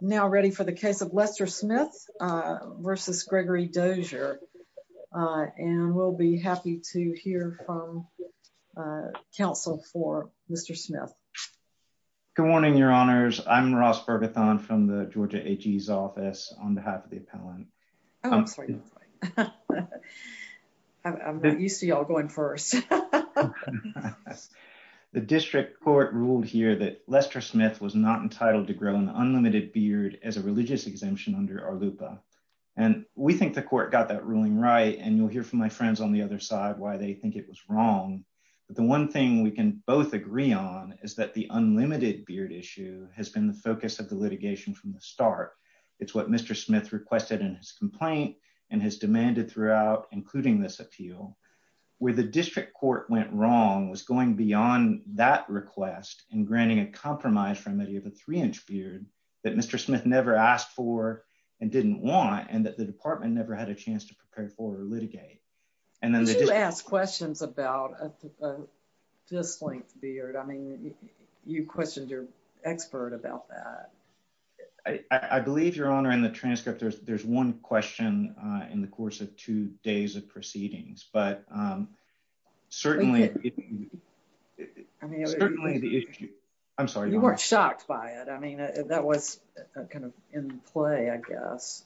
Now ready for the case of Lester Smith v. Gregory Dozier, and we'll be happy to hear from counsel for Mr. Smith. Good morning, Your Honors. I'm Ross Berbathon from the Georgia AG's office on behalf of the appellant. Oh, I'm sorry. I'm not used to y'all going first. The district court ruled here that Lester Smith was not entitled to grow an unlimited beard as a religious exemption under our LUPA. And we think the court got that ruling right. And you'll hear from my friends on the other side why they think it was wrong. But the one thing we can both agree on is that the unlimited beard issue has been the focus of the litigation from the start. It's what Mr. Smith requested in his complaint, and has demanded throughout including this appeal, where the district court went wrong was going beyond that request and granting a compromise from any of the three inch beard that Mr. Smith never asked for and didn't want and that the department never had a chance to prepare for or litigate. And then they do ask questions about this length beard. I mean, you questioned your expert about that. I believe Your Honor in the I'm sorry, you weren't shocked by it. I mean, that was kind of in play, I guess.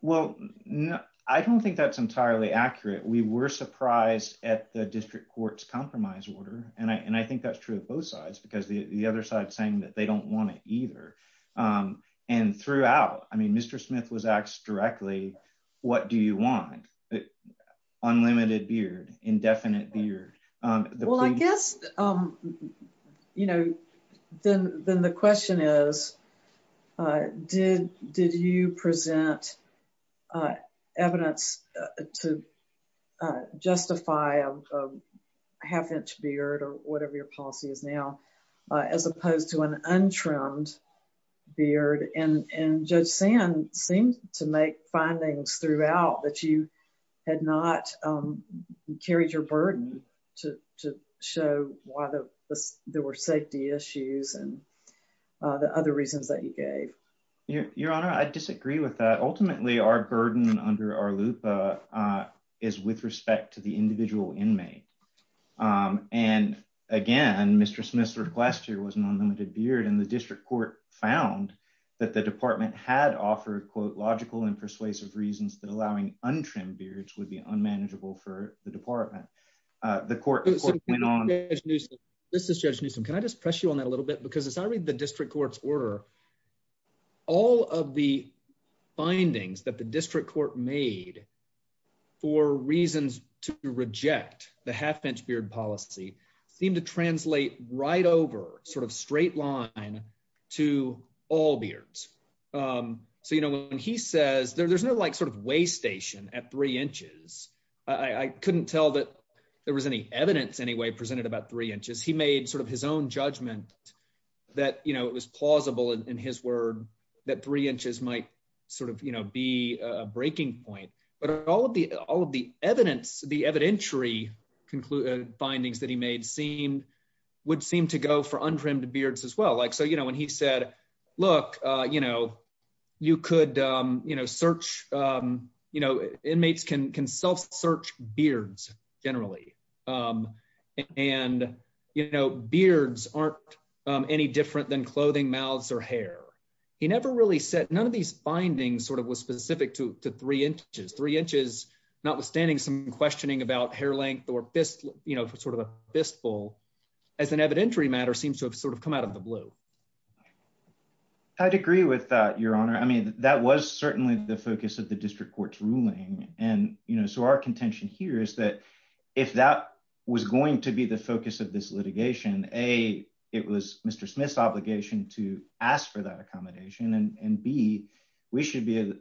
Well, no, I don't think that's entirely accurate. We were surprised at the district court's compromise order. And I think that's true of both sides, because the other side saying that they don't want it either. And throughout, I mean, Mr. Smith was asked directly, what do you want? Unlimited beard, indefinite beard? Well, I guess, you know, then the question is, did you present evidence to justify a half inch beard or whatever your policy is now, as opposed to an untrimmed beard? And Judge Sand seemed to make findings throughout that you had not carried your burden to show why there were safety issues and the other reasons that you gave. Your Honor, I disagree with that. Ultimately, our burden under our loop is with respect to the individual inmate. And again, Mr. Smith's request here was an unlimited beard and the district court found that the department had offered, quote, logical and persuasive reasons that allowing untrimmed beards would be unmanageable for the department. The court went on. This is Judge Newsom. Can I just press you on that a little bit? Because as I read the district court's order, all of the findings that the district court made for reasons to reject the half inch beard policy seem to translate right over sort of straight line to all beards. So, when he says there's no like sort of weigh station at three inches, I couldn't tell that there was any evidence anyway presented about three inches. He made sort of his own judgment that it was plausible in his word that three inches might sort of be a breaking point. But all of the evidence, the evidentiary findings that he made would seem to go for you know, search, you know, inmates can self-search beards generally. And, you know, beards aren't any different than clothing, mouths, or hair. He never really said, none of these findings sort of was specific to three inches. Three inches, notwithstanding some questioning about hair length or fist, you know, sort of a fistful, as an evidentiary matter seems to have come out of the blue. I'd agree with that, your honor. I mean, that was certainly the focus of the district court's ruling. And, you know, so our contention here is that if that was going to be the focus of this litigation, A, it was Mr. Smith's obligation to ask for that accommodation. And B, we should be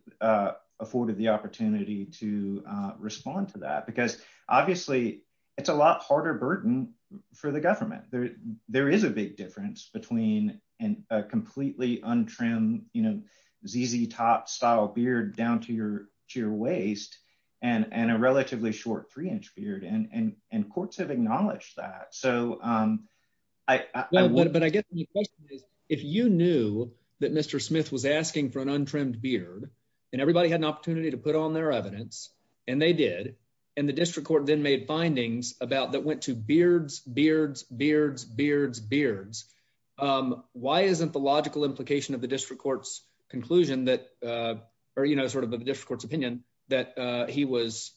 afforded the opportunity to respond to that. Because obviously, it's a lot between a completely untrimmed, you know, ZZ Top style beard down to your waist, and a relatively short three-inch beard. And courts have acknowledged that. So I want to... But I guess the question is, if you knew that Mr. Smith was asking for an untrimmed beard, and everybody had an opportunity to put on their evidence, and they did, and the district court then made findings about that went to beards, beards, beards, beards, beards. Why isn't the logical implication of the district court's conclusion that, or, you know, sort of the district court's opinion that he was,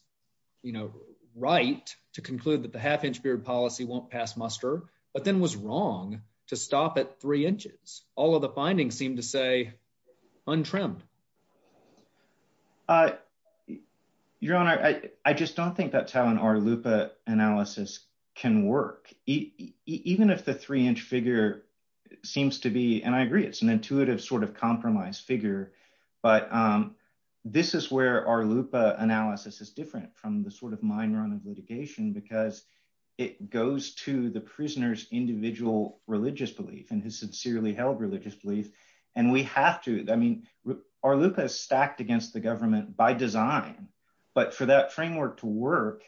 you know, right to conclude that the half-inch beard policy won't pass muster, but then was wrong to stop at three inches. All of the findings seem to say untrimmed. Your Honor, I just don't think that's how an RLUIPA analysis can work. Even if the three-inch figure seems to be, and I agree, it's an intuitive sort of compromise figure. But this is where RLUIPA analysis is different from the sort of mine run of litigation, because it goes to the prisoner's individual religious belief and his sincerely held religious belief. And we have to, I mean, RLUIPA is stacked against the government by design, but for that framework to work,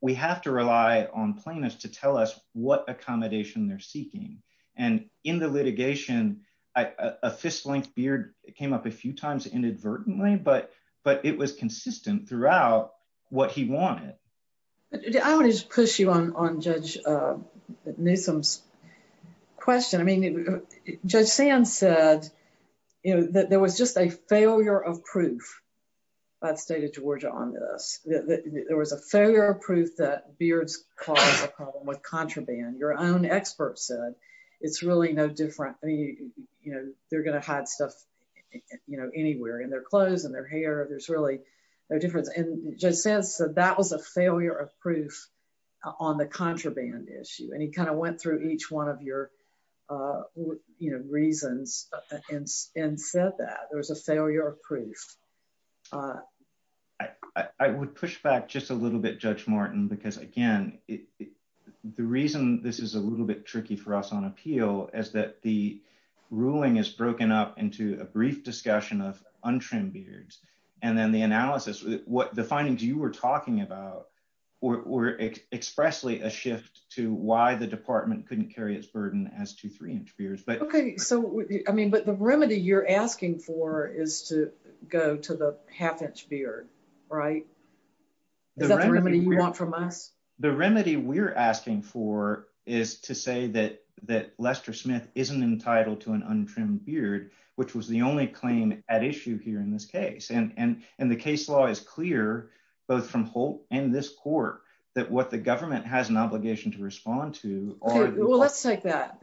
we have to rely on plaintiffs to tell us what accommodation they're seeking. And in the litigation, a fist-length beard came up a few times inadvertently, but it was consistent throughout what he wanted. I want to just push you on Judge Newsom's question. I mean, Judge Sand said, you know, that there was just a failure of proof. I've stated Georgia on this. There was a failure of proof that beards cause a problem with contraband. Your own expert said it's really no different. I mean, you know, they're going to hide stuff, you know, anywhere in their clothes and their hair. There's really no difference. And Judge Sand said that was a failure of proof on the contraband issue. And he kind of went through each one of your, you know, reasons and said that there was a failure of proof. I would push back just a little bit, Judge Martin, because again, the reason this is a little bit tricky for us on appeal is that the ruling is broken up into a and then the analysis, the findings you were talking about were expressly a shift to why the department couldn't carry its burden as to three-inch beards. Okay, so I mean, but the remedy you're asking for is to go to the half-inch beard, right? Is that the remedy you want from us? The remedy we're asking for is to say that Lester Smith isn't entitled to an untrimmed beard, which was the only claim at issue here in this case. And the case law is clear, both from Holt and this court, that what the government has an obligation to respond to... Well, let's take that,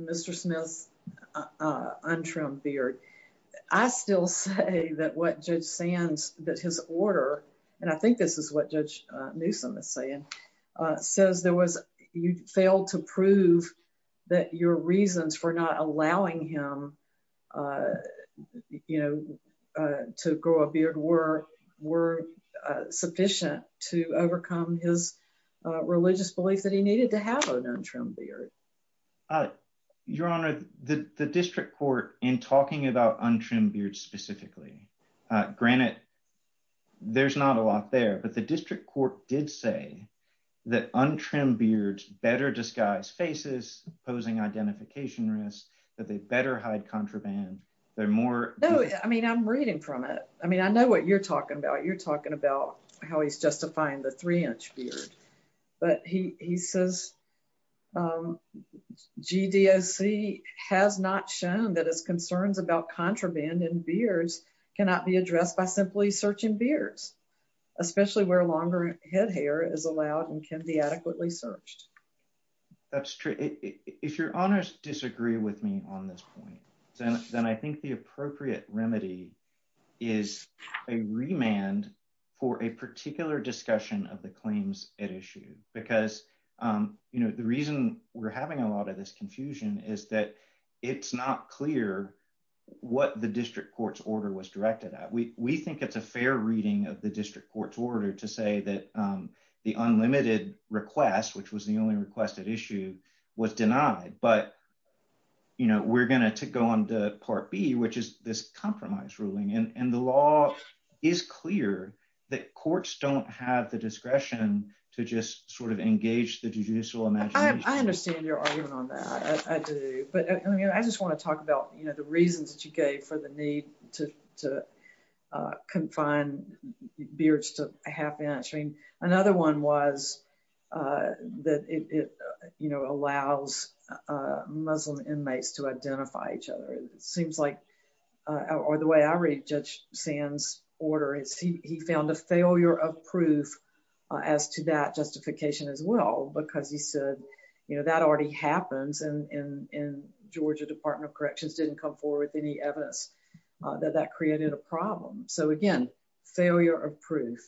Mr. Smith's untrimmed beard. I still say that what Judge Sand's, that his order, and I think this is what Judge Newsom is saying, says there was, you failed to prove that your reasons for not allowing him to grow a beard were sufficient to overcome his religious belief that he needed to have an untrimmed beard. Your Honor, the district court, in talking about untrimmed beards specifically, granted, there's not a lot there, but the district court did say that untrimmed beards better disguise faces, posing identification risks, that they better hide contraband. They're more... No, I mean, I'm reading from it. I mean, I know what you're talking about. You're talking about how he's justifying the three-inch beard, but he says GDOC has not shown that his concerns about contraband and beards cannot be addressed by simply searching beards, especially where longer head hair is allowed and can be adequately searched. That's true. If your Honors disagree with me on this point, then I think the appropriate remedy is a remand for a particular discussion of the claims at issue, because the reason we're having a lot of this confusion is that it's not clear what the district court's order was directed at. We think it's a fair reading of the district court's order to say that the unlimited request, which was the only requested issue, was denied, but we're going to go on to Part B, which is this compromise ruling, and the law is clear that courts don't have the discretion to just engage the judicial imagination. I understand your argument on that. I do, but I just want to talk about the reasons that you gave for the need to confine beards to half-inch. I mean, another one was that it allows Muslim inmates to identify each other. It seems like, or the way I read Judge Sands' order, he found a failure of proof as to that justification as well, because he said, you know, that already happens, and Georgia Department of Corrections didn't come forward with any evidence that that created a problem. So again, failure of proof.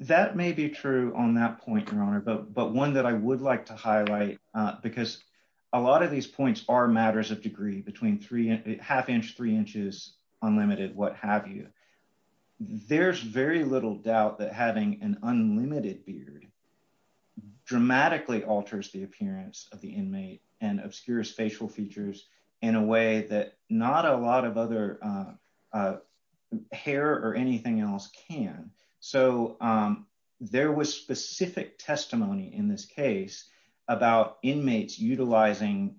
That may be true on that point, Your Honor, but one that I would like to highlight, because a lot of these points are unlimited, what have you, there's very little doubt that having an unlimited beard dramatically alters the appearance of the inmate and obscures facial features in a way that not a lot of other hair or anything else can. So there was specific testimony in this case about inmates utilizing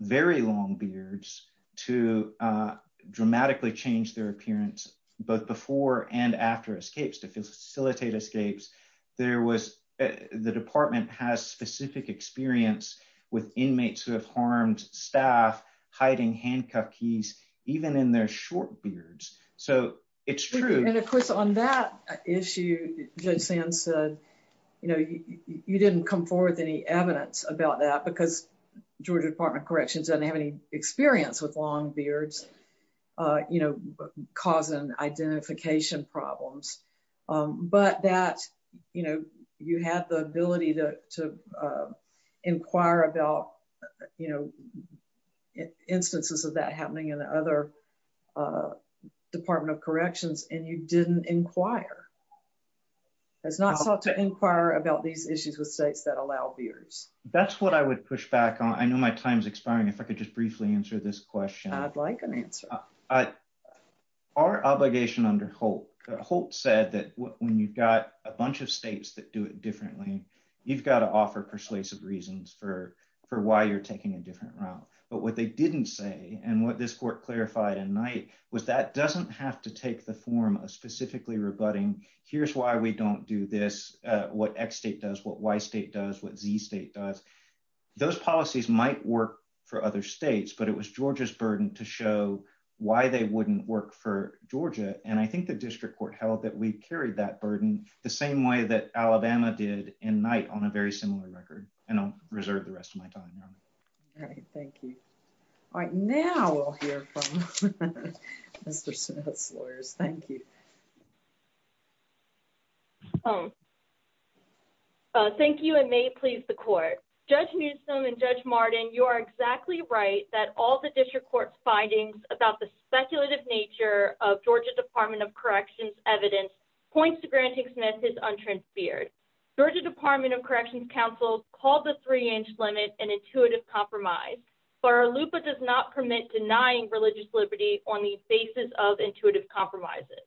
very long beards to dramatically change their appearance, both before and after escapes, to facilitate escapes. There was, the department has specific experience with inmates who have harmed staff hiding handcuff keys, even in their short beards. So it's true. And of course on that issue, Judge Sands said, you know, you didn't come forward with any evidence about that because Georgia Department of Corrections doesn't have any experience with long beards, you know, causing identification problems. But that, you know, you had the ability to inquire about, you know, instances of that happening in the other Department of Corrections and you didn't inquire, has not sought to inquire about these issues with states that allow beards. That's what I would push back on. I know my time's expiring. If I could just briefly answer this question. I'd like an answer. Our obligation under Holt, Holt said that when you've got a bunch of states that do it differently, you've got to offer persuasive reasons for why you're taking a different route. But what they didn't say, and what this court clarified in Knight was that doesn't have to take the form of specifically rebutting. Here's why we don't do this. What X state does, what Y state does, what Z state does. Those policies might work for other states, but it was Georgia's burden to show why they wouldn't work for Georgia. And I think the district court held that we carried that burden the same way that Alabama did in Knight on a similar record. And I'll reserve the rest of my time. All right. Thank you. All right. Now we'll hear from Mr. Smith's lawyers. Thank you. Thank you and may it please the court. Judge Newsom and Judge Martin, you are exactly right that all the district court's findings about the speculative nature of Georgia Department of Corrections evidence points to granting Smith his untransferred. Georgia Department of Corrections counsel called the three-inch limit an intuitive compromise, but our LUPA does not permit denying religious liberty on the basis of intuitive compromises.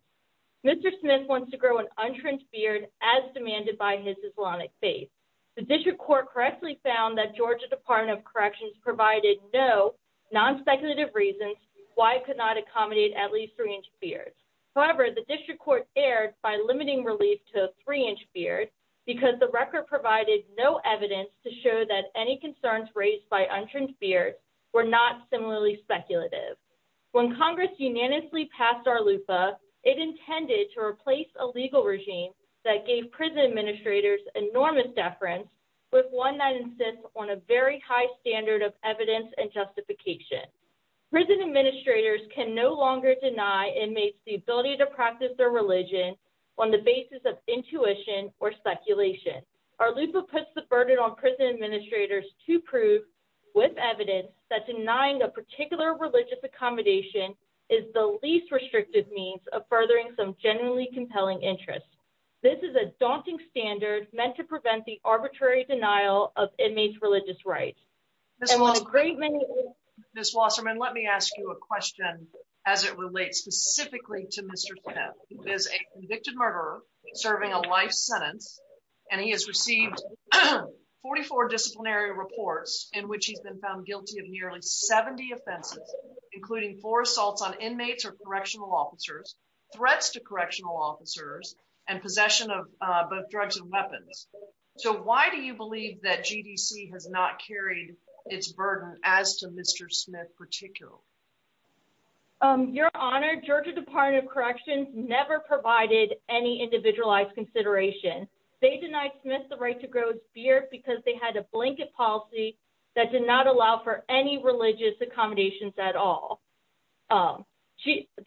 Mr. Smith wants to grow an untransferred as demanded by his Islamic faith. The district court correctly found that Georgia Department of Corrections provided no non-speculative reasons why it could not accommodate at least three-inch fears. However, the district court erred by because the record provided no evidence to show that any concerns raised by untransferred were not similarly speculative. When Congress unanimously passed our LUPA, it intended to replace a legal regime that gave prison administrators enormous deference with one that insists on a very high standard of evidence and justification. Prison administrators can no to practice their religion on the basis of intuition or speculation. Our LUPA puts the burden on prison administrators to prove with evidence that denying a particular religious accommodation is the least restrictive means of furthering some genuinely compelling interests. This is a daunting standard meant to prevent the arbitrary denial of inmates' religious rights. Ms. Wasserman, let me ask you a question as it relates specifically to Mr. Smith. He is a convicted murderer serving a life sentence, and he has received 44 disciplinary reports in which he's been found guilty of nearly 70 offenses, including four assaults on inmates or correctional officers, threats to correctional officers, and possession of both drugs and weapons. So why do you believe that GDC has not carried its burden as to Mr. Smith particular? Your Honor, Georgia Department of Corrections never provided any individualized consideration. They denied Smith the right to grow his beard because they had a blanket policy that did not allow for any religious accommodations at all.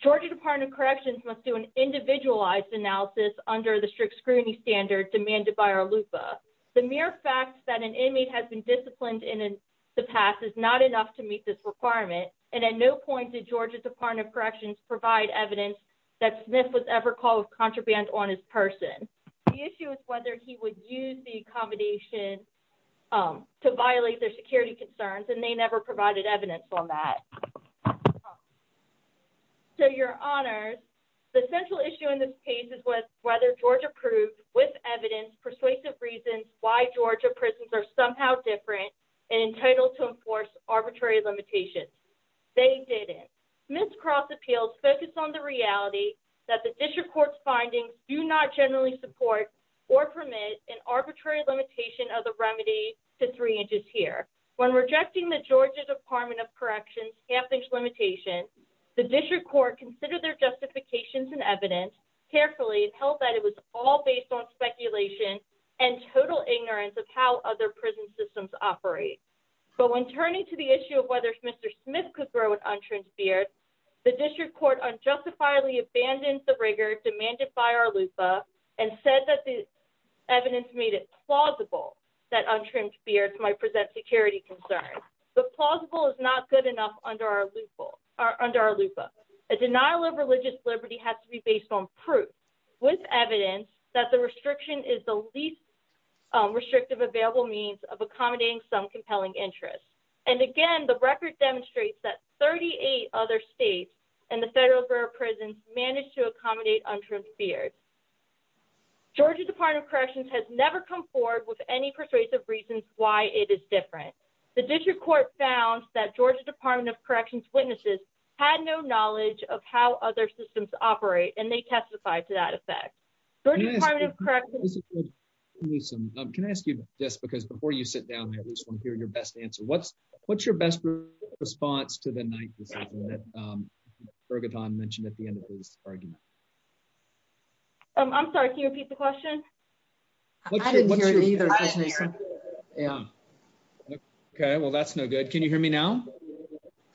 Georgia Department of Corrections must do an individualized analysis under the strict standard demanded by our LUPA. The mere fact that an inmate has been disciplined in the past is not enough to meet this requirement, and at no point did Georgia Department of Corrections provide evidence that Smith was ever called contraband on his person. The issue is whether he would use the accommodation to violate their security concerns, and they never provided evidence on that. So, Your Honors, the central issue in this case is whether Georgia proved, with evidence, persuasive reasons, why Georgia prisons are somehow different and entitled to enforce arbitrary limitations. They didn't. Smith's cross appeals focus on the reality that the district court's findings do not generally support or permit an arbitrary limitation of the remedy to three inches here. When rejecting the Georgia Department of Corrections' half-inch limitation, the district court considered their justifications and evidence carefully and held that it was all based on speculation and total ignorance of how other prison systems operate. But when turning to the issue of whether Mr. Smith could grow an untransparent beard, the district court unjustifiably abandoned the rigor demanded by our LUPA and said that the evidence made it plausible that untrimmed beards might present security concerns. But plausible is not good enough under our LUPA. A denial of religious liberty has to be based on proof, with evidence, that the restriction is the least restrictive available means of accommodating some compelling interests. And again, the record demonstrates that 38 other states and the federal borough prisons managed to accommodate untrimmed beards. Georgia Department of Corrections has never come to any persuasive reasons why it is different. The district court found that Georgia Department of Corrections' witnesses had no knowledge of how other systems operate, and they testified to that effect. Georgia Department of Corrections... Can I ask you this, because before you sit down, I just want to hear your best answer. What's your best response to the ninth decision that Bergeton mentioned at the end of his argument? I'm sorry, can you repeat the question? I didn't hear it either. Yeah. Okay, well, that's no good. Can you hear me now?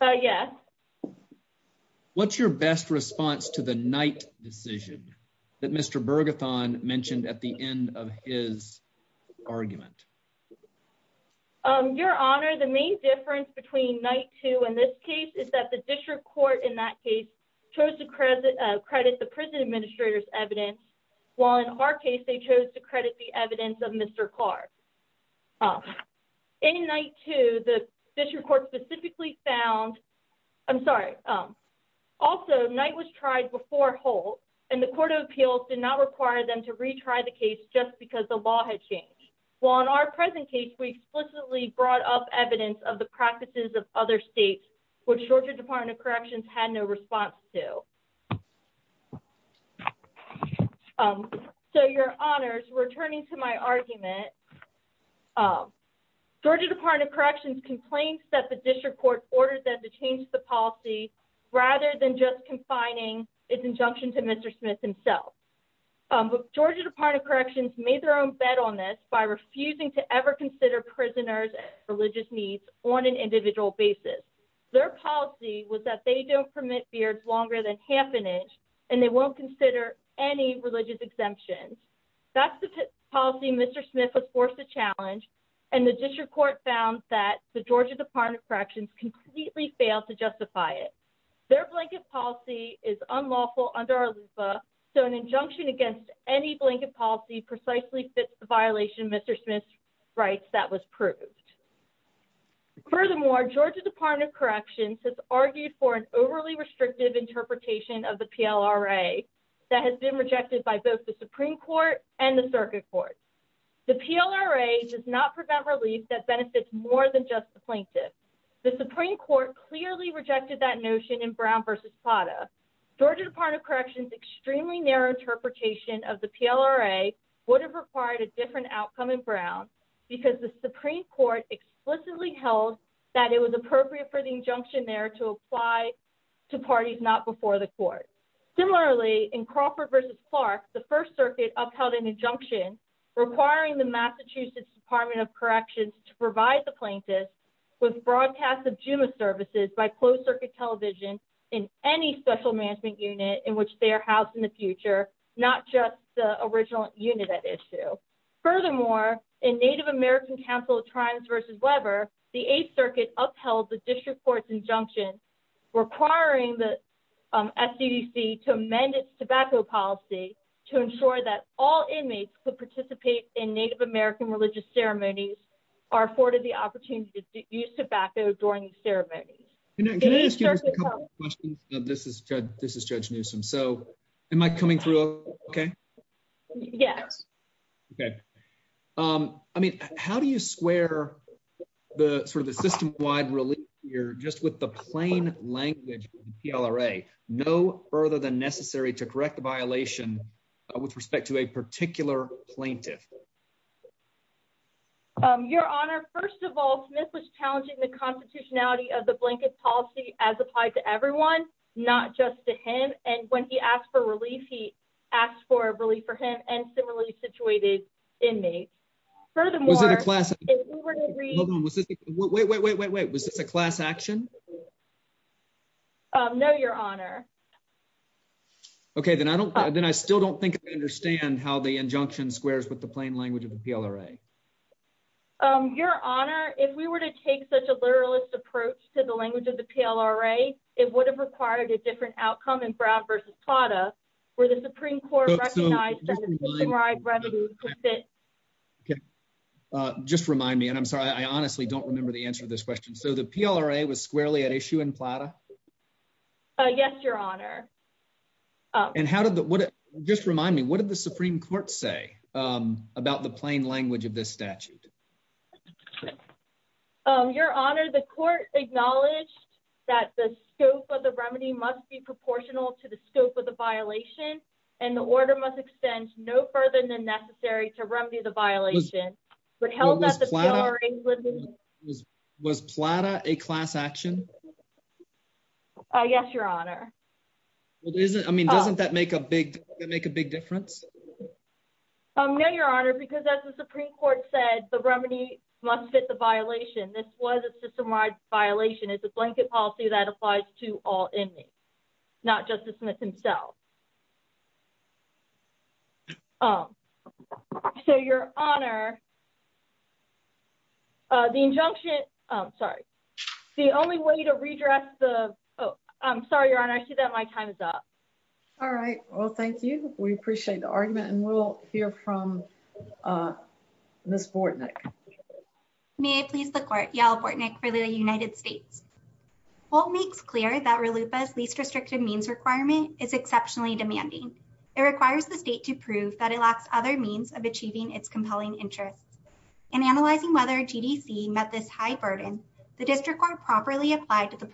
Yes. What's your best response to the ninth decision that Mr. Bergeton mentioned at the end of his argument? Your Honor, the main difference between night two in this case is that the district court in that case chose to credit the prison administrator's evidence, while in our case, they chose to credit the evidence of Mr. Clark. In night two, the district court specifically found... I'm sorry. Also, night was tried before hold, and the court of appeals did not require them to retry the case just because the law had changed. While in our present case, we explicitly brought up evidence of the practices of other states, which Georgia Department of Corrections had no response to. So, Your Honors, returning to my argument, Georgia Department of Corrections complained that the district court ordered them to change the policy rather than just confining its injunction to Mr. Smith himself. But Georgia Department of Corrections made their own bet on this by refusing to ever consider prisoners' religious needs on an individual basis. Their policy was that they don't permit beards longer than half an inch, and they won't consider any religious exemptions. That's the policy Mr. Smith was forced to challenge, and the district court found that the Georgia Department of Corrections completely failed to justify it. Their blanket policy is unlawful under our LUPA, so an injunction against any blanket policy precisely fits the an overly restrictive interpretation of the PLRA that has been rejected by both the Supreme Court and the Circuit Court. The PLRA does not prevent relief that benefits more than just the plaintiff. The Supreme Court clearly rejected that notion in Brown v. Pata. Georgia Department of Corrections' extremely narrow interpretation of the PLRA would have required a different outcome in Brown because the Supreme Court explicitly held that it was appropriate for the injunction there to apply to parties not before the court. Similarly, in Crawford v. Clark, the First Circuit upheld an injunction requiring the Massachusetts Department of Corrections to provide the plaintiff with broadcasts of Juma services by closed circuit television in any special management unit in which they are housed in the future, not just the original unit at issue. Furthermore, in Native American Council of Tribes v. Weber, the Eighth Circuit upheld the district court's injunction requiring the SCDC to amend its tobacco policy to ensure that all inmates could participate in Native American religious ceremonies are afforded the opportunity to use tobacco during ceremonies. Can I ask you a couple of questions? This is Judge Newsom. Am I coming through okay? Yes. Okay. How do you square the system-wide relief here just with the plain language of the PLRA, no further than necessary to correct the violation with respect to a particular plaintiff? Your Honor, first of all, Smith was challenging the constitutionality of the blanket policy as applied to everyone, not just to him. And when he asked for relief, he asked for relief for him and similarly situated inmates. Furthermore, Was it a class? Wait, wait, wait, wait, wait. Was this a class action? No, Your Honor. Okay, then I still don't think I understand how the injunction squares with the plain language of the PLRA. Your Honor, if we were to take such a literalist approach to the language of the PLRA, it would have required a different outcome in Brown v. Plata, where the Supreme Court recognized that the system-wide revenue could fit. Okay. Just remind me, and I'm sorry, I honestly don't remember the answer to this question. So the PLRA was squarely at issue in Plata? Yes, Your Honor. And how did the, what, just remind me, what did the Supreme Court say about the plain language of this statute? Your Honor, the court acknowledged that the scope of the remedy must be proportional to the scope of the violation and the order must extend no further than necessary to remedy the violation. Was Plata a class action? Yes, Your Honor. Well, doesn't, I mean, doesn't that make a big, make a big difference? No, Your Honor, because as the Supreme Court said, the remedy must fit the violation. This was a system-wide violation. It's a blanket policy that applies to all inmates, not Justice Smith himself. So, Your Honor, the injunction, sorry, the only way to redress the, oh, I'm sorry, Your Honor, I see that my time is up. All right. Well, thank you. We appreciate the argument and we'll hear from Ms. Bortnick. May I please the court, Yael Bortnick for the United States. Holt makes clear that RLUPA's least restrictive means requirement is exceptionally demanding. It requires the state to prove that it lacks other means of achieving its compelling interests. In analyzing whether GDC met this high burden, the district court properly applied to the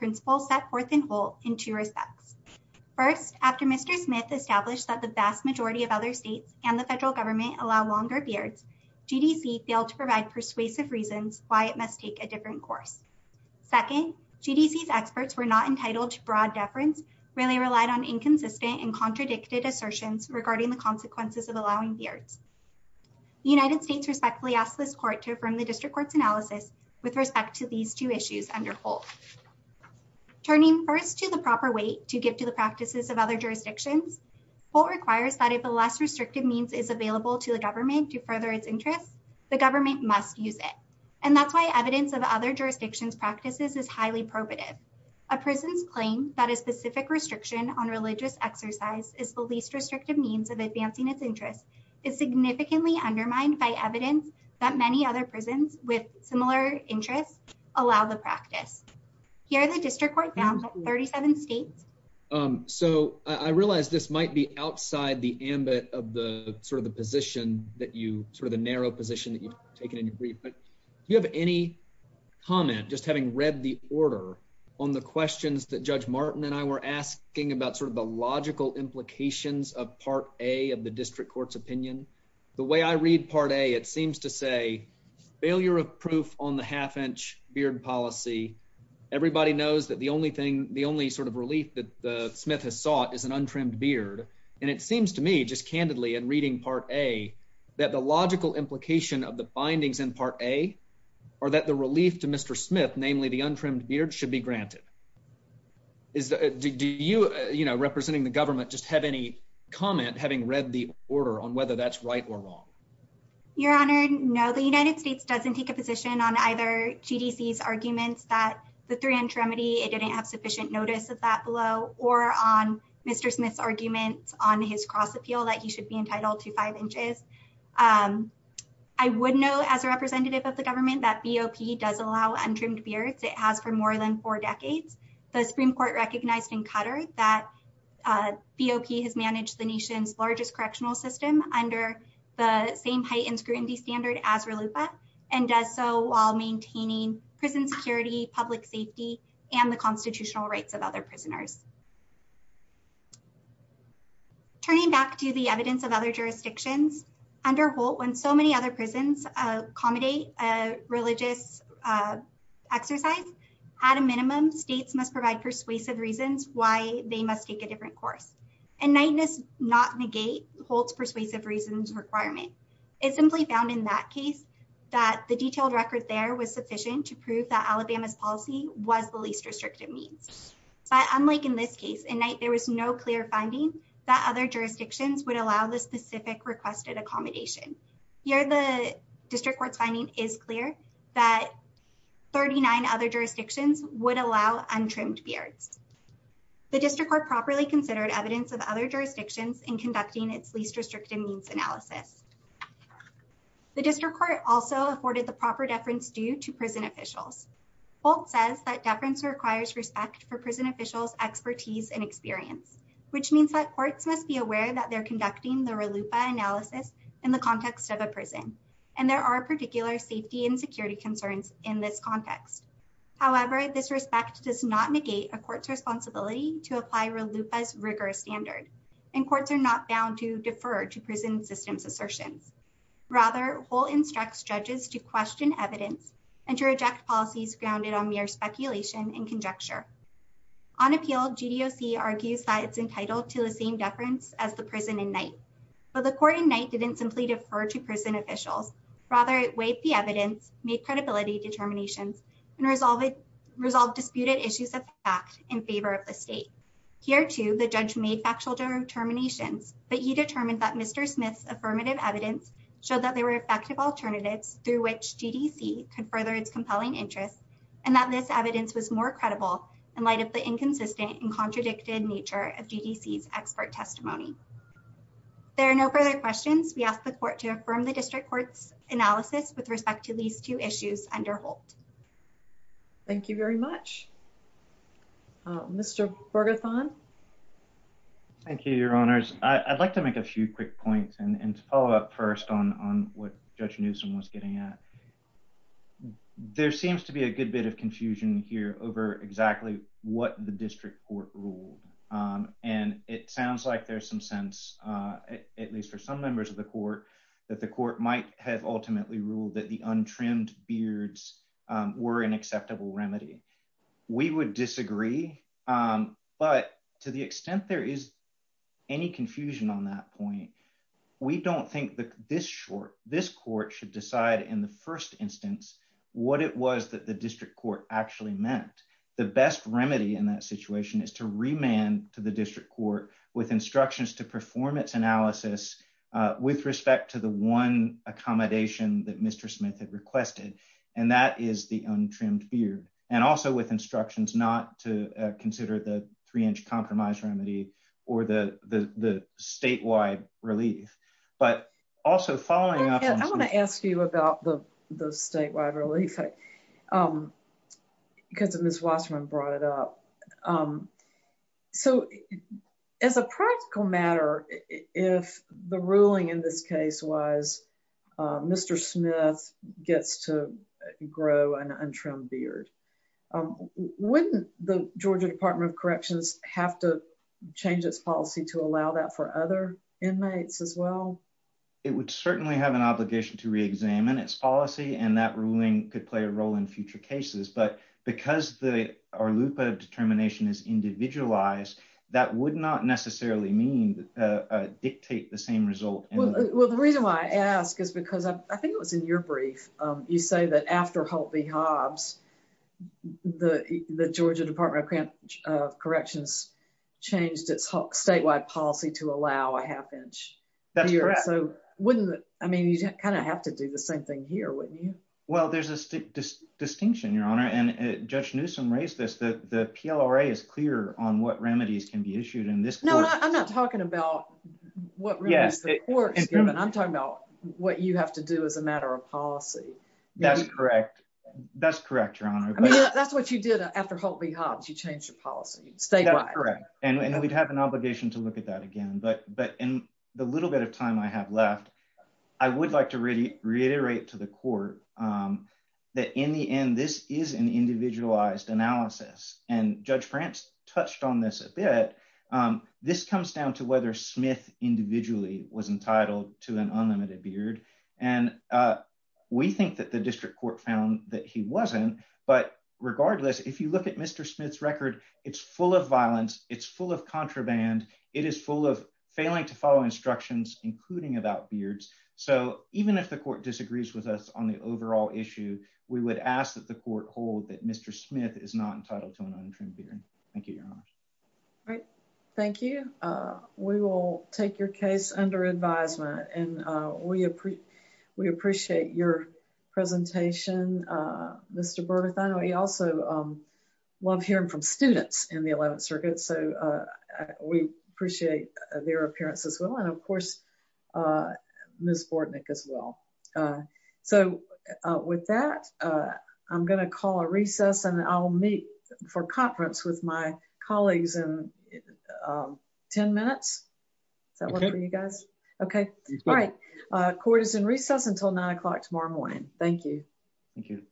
First, after Mr. Smith established that the vast majority of other states and the federal government allow longer beards, GDC failed to provide persuasive reasons why it must take a different course. Second, GDC's experts were not entitled to broad deference, really relied on inconsistent and contradicted assertions regarding the consequences of allowing beards. The United States respectfully asked this court to affirm the district court's analysis with respect to these two issues under Holt. Turning first to the proper weight to give to the practices of other jurisdictions, Holt requires that if a less restrictive means is available to the government to further its interests, the government must use it. And that's why evidence of other jurisdictions practices is highly probative. A prison's claim that a specific restriction on religious exercise is the least restrictive means of advancing its interests allow the practice. Here, the district court found that 37 states. So I realize this might be outside the ambit of the sort of the position that you sort of the narrow position that you've taken in your brief, but you have any comment just having read the order on the questions that Judge Martin and I were asking about sort of the logical implications of Part A of the district court's opinion. The way I read Part A, it seems to say failure of proof on the half-inch beard policy. Everybody knows that the only thing, the only sort of relief that the Smith has sought is an untrimmed beard. And it seems to me just candidly in reading Part A that the logical implication of the bindings in Part A are that the relief to Mr. Smith, namely the untrimmed beard should be granted. Do you, you know, representing the government just have any comment having read the order on whether that's right or Your Honor, no, the United States doesn't take a position on either GDC's arguments that the three-inch remedy, it didn't have sufficient notice of that below or on Mr. Smith's arguments on his cross appeal that he should be entitled to five inches. I would know as a representative of the government that BOP does allow untrimmed beards. It has for more than four decades. The Supreme Court recognized in Qatar that BOP has managed the nation's largest correctional system under the same height and scrutiny standard as RLUPA and does so while maintaining prison security, public safety, and the constitutional rights of other prisoners. Turning back to the evidence of other jurisdictions under Holt, when so many other prisons accommodate a religious exercise, at a minimum, states must provide persuasive reasons why they must take a different course. And Knight does not negate Holt's persuasive reasons requirement. It simply found in that case that the detailed record there was sufficient to prove that Alabama's policy was the least restrictive means. But unlike in this case, in Knight, there was no clear finding that other jurisdictions would allow the specific requested accommodation. Here, the district court's finding is clear that 39 other jurisdictions would allow untrimmed beards. The district court properly considered evidence of other jurisdictions in conducting its least restrictive means analysis. The district court also afforded the proper deference due to prison officials. Holt says that deference requires respect for prison officials' expertise and experience, which means that courts must be aware that they're conducting the RLUPA analysis in the context of a prison, and there are particular safety and security concerns in this a court's responsibility to apply RLUPA's rigorous standard, and courts are not bound to defer to prison systems assertions. Rather, Holt instructs judges to question evidence and to reject policies grounded on mere speculation and conjecture. On appeal, GDOC argues that it's entitled to the same deference as the prison in Knight, but the court in Knight didn't simply defer to prison officials. Rather, it weighed the evidence, made credibility determinations, and resolved disputed issues of fact in favor of the state. Here, too, the judge made factual determinations, but he determined that Mr. Smith's affirmative evidence showed that there were effective alternatives through which GDC could further its compelling interests, and that this evidence was more credible in light of the inconsistent and contradicted nature of GDC's expert testimony. There are no further questions. We ask the court to affirm the district court's judgment. Mr. Bergethon? Thank you, Your Honors. I'd like to make a few quick points, and to follow up first on what Judge Newsom was getting at. There seems to be a good bit of confusion here over exactly what the district court ruled, and it sounds like there's some sense, at least for some members of the court, that the court might have ultimately ruled that the district court was wrong. I would disagree, but to the extent there is any confusion on that point, we don't think that this court should decide in the first instance what it was that the district court actually meant. The best remedy in that situation is to remand to the district court with instructions to perform its analysis with respect to the one accommodation that Mr. Smith had requested, and that is the untrimmed beard, and also with instructions not to consider the three-inch compromise remedy or the statewide relief, but also following up... I want to ask you about the statewide relief, because Ms. Wasserman brought it up. So, as a practical matter, if the ruling in this case was Mr. Smith gets to grow an untrimmed beard, wouldn't the Georgia Department of Corrections have to change its policy to allow that for other inmates as well? It would certainly have an obligation to re-examine its policy, and that is individualized. That would not necessarily mean dictate the same result. Well, the reason why I ask is because I think it was in your brief. You say that after Holt v. Hobbs, the Georgia Department of Corrections changed its statewide policy to allow a half-inch. That's correct. So, wouldn't... I mean, you'd kind of have to do the same thing here, wouldn't you? Well, there's a distinction, Your Honor, and Judge Newsom raised this, that the PLRA is clear on what remedies can be issued in this court. No, I'm not talking about what remedies the court's given. I'm talking about what you have to do as a matter of policy. That's correct. That's correct, Your Honor. I mean, that's what you did after Holt v. Hobbs. You changed your policy statewide. That's correct, and we'd have an obligation to look at that again, but in the little bit of time I have left, I would like to reiterate to the court that in the end, this is an individualized analysis, and Judge France touched on this a bit. This comes down to whether Smith individually was entitled to an unlimited beard, and we think that the district court found that he wasn't, but regardless, if you look at Mr. Smith's record, it's full of violence. It's full of contraband. It is full of failing to even if the court disagrees with us on the overall issue, we would ask that the court hold that Mr. Smith is not entitled to an untrimmed beard. Thank you, Your Honor. Great. Thank you. We will take your case under advisement, and we appreciate your presentation, Mr. Bergerth. I know you also love hearing from students in the 11th Circuit, so we appreciate their appearance as well, and of course, we appreciate your testimony as well. So with that, I'm going to call a recess, and I'll meet for conference with my colleagues in 10 minutes. Does that work for you guys? Okay. All right. Court is in recess until nine o'clock tomorrow morning. Thank you. Thank you.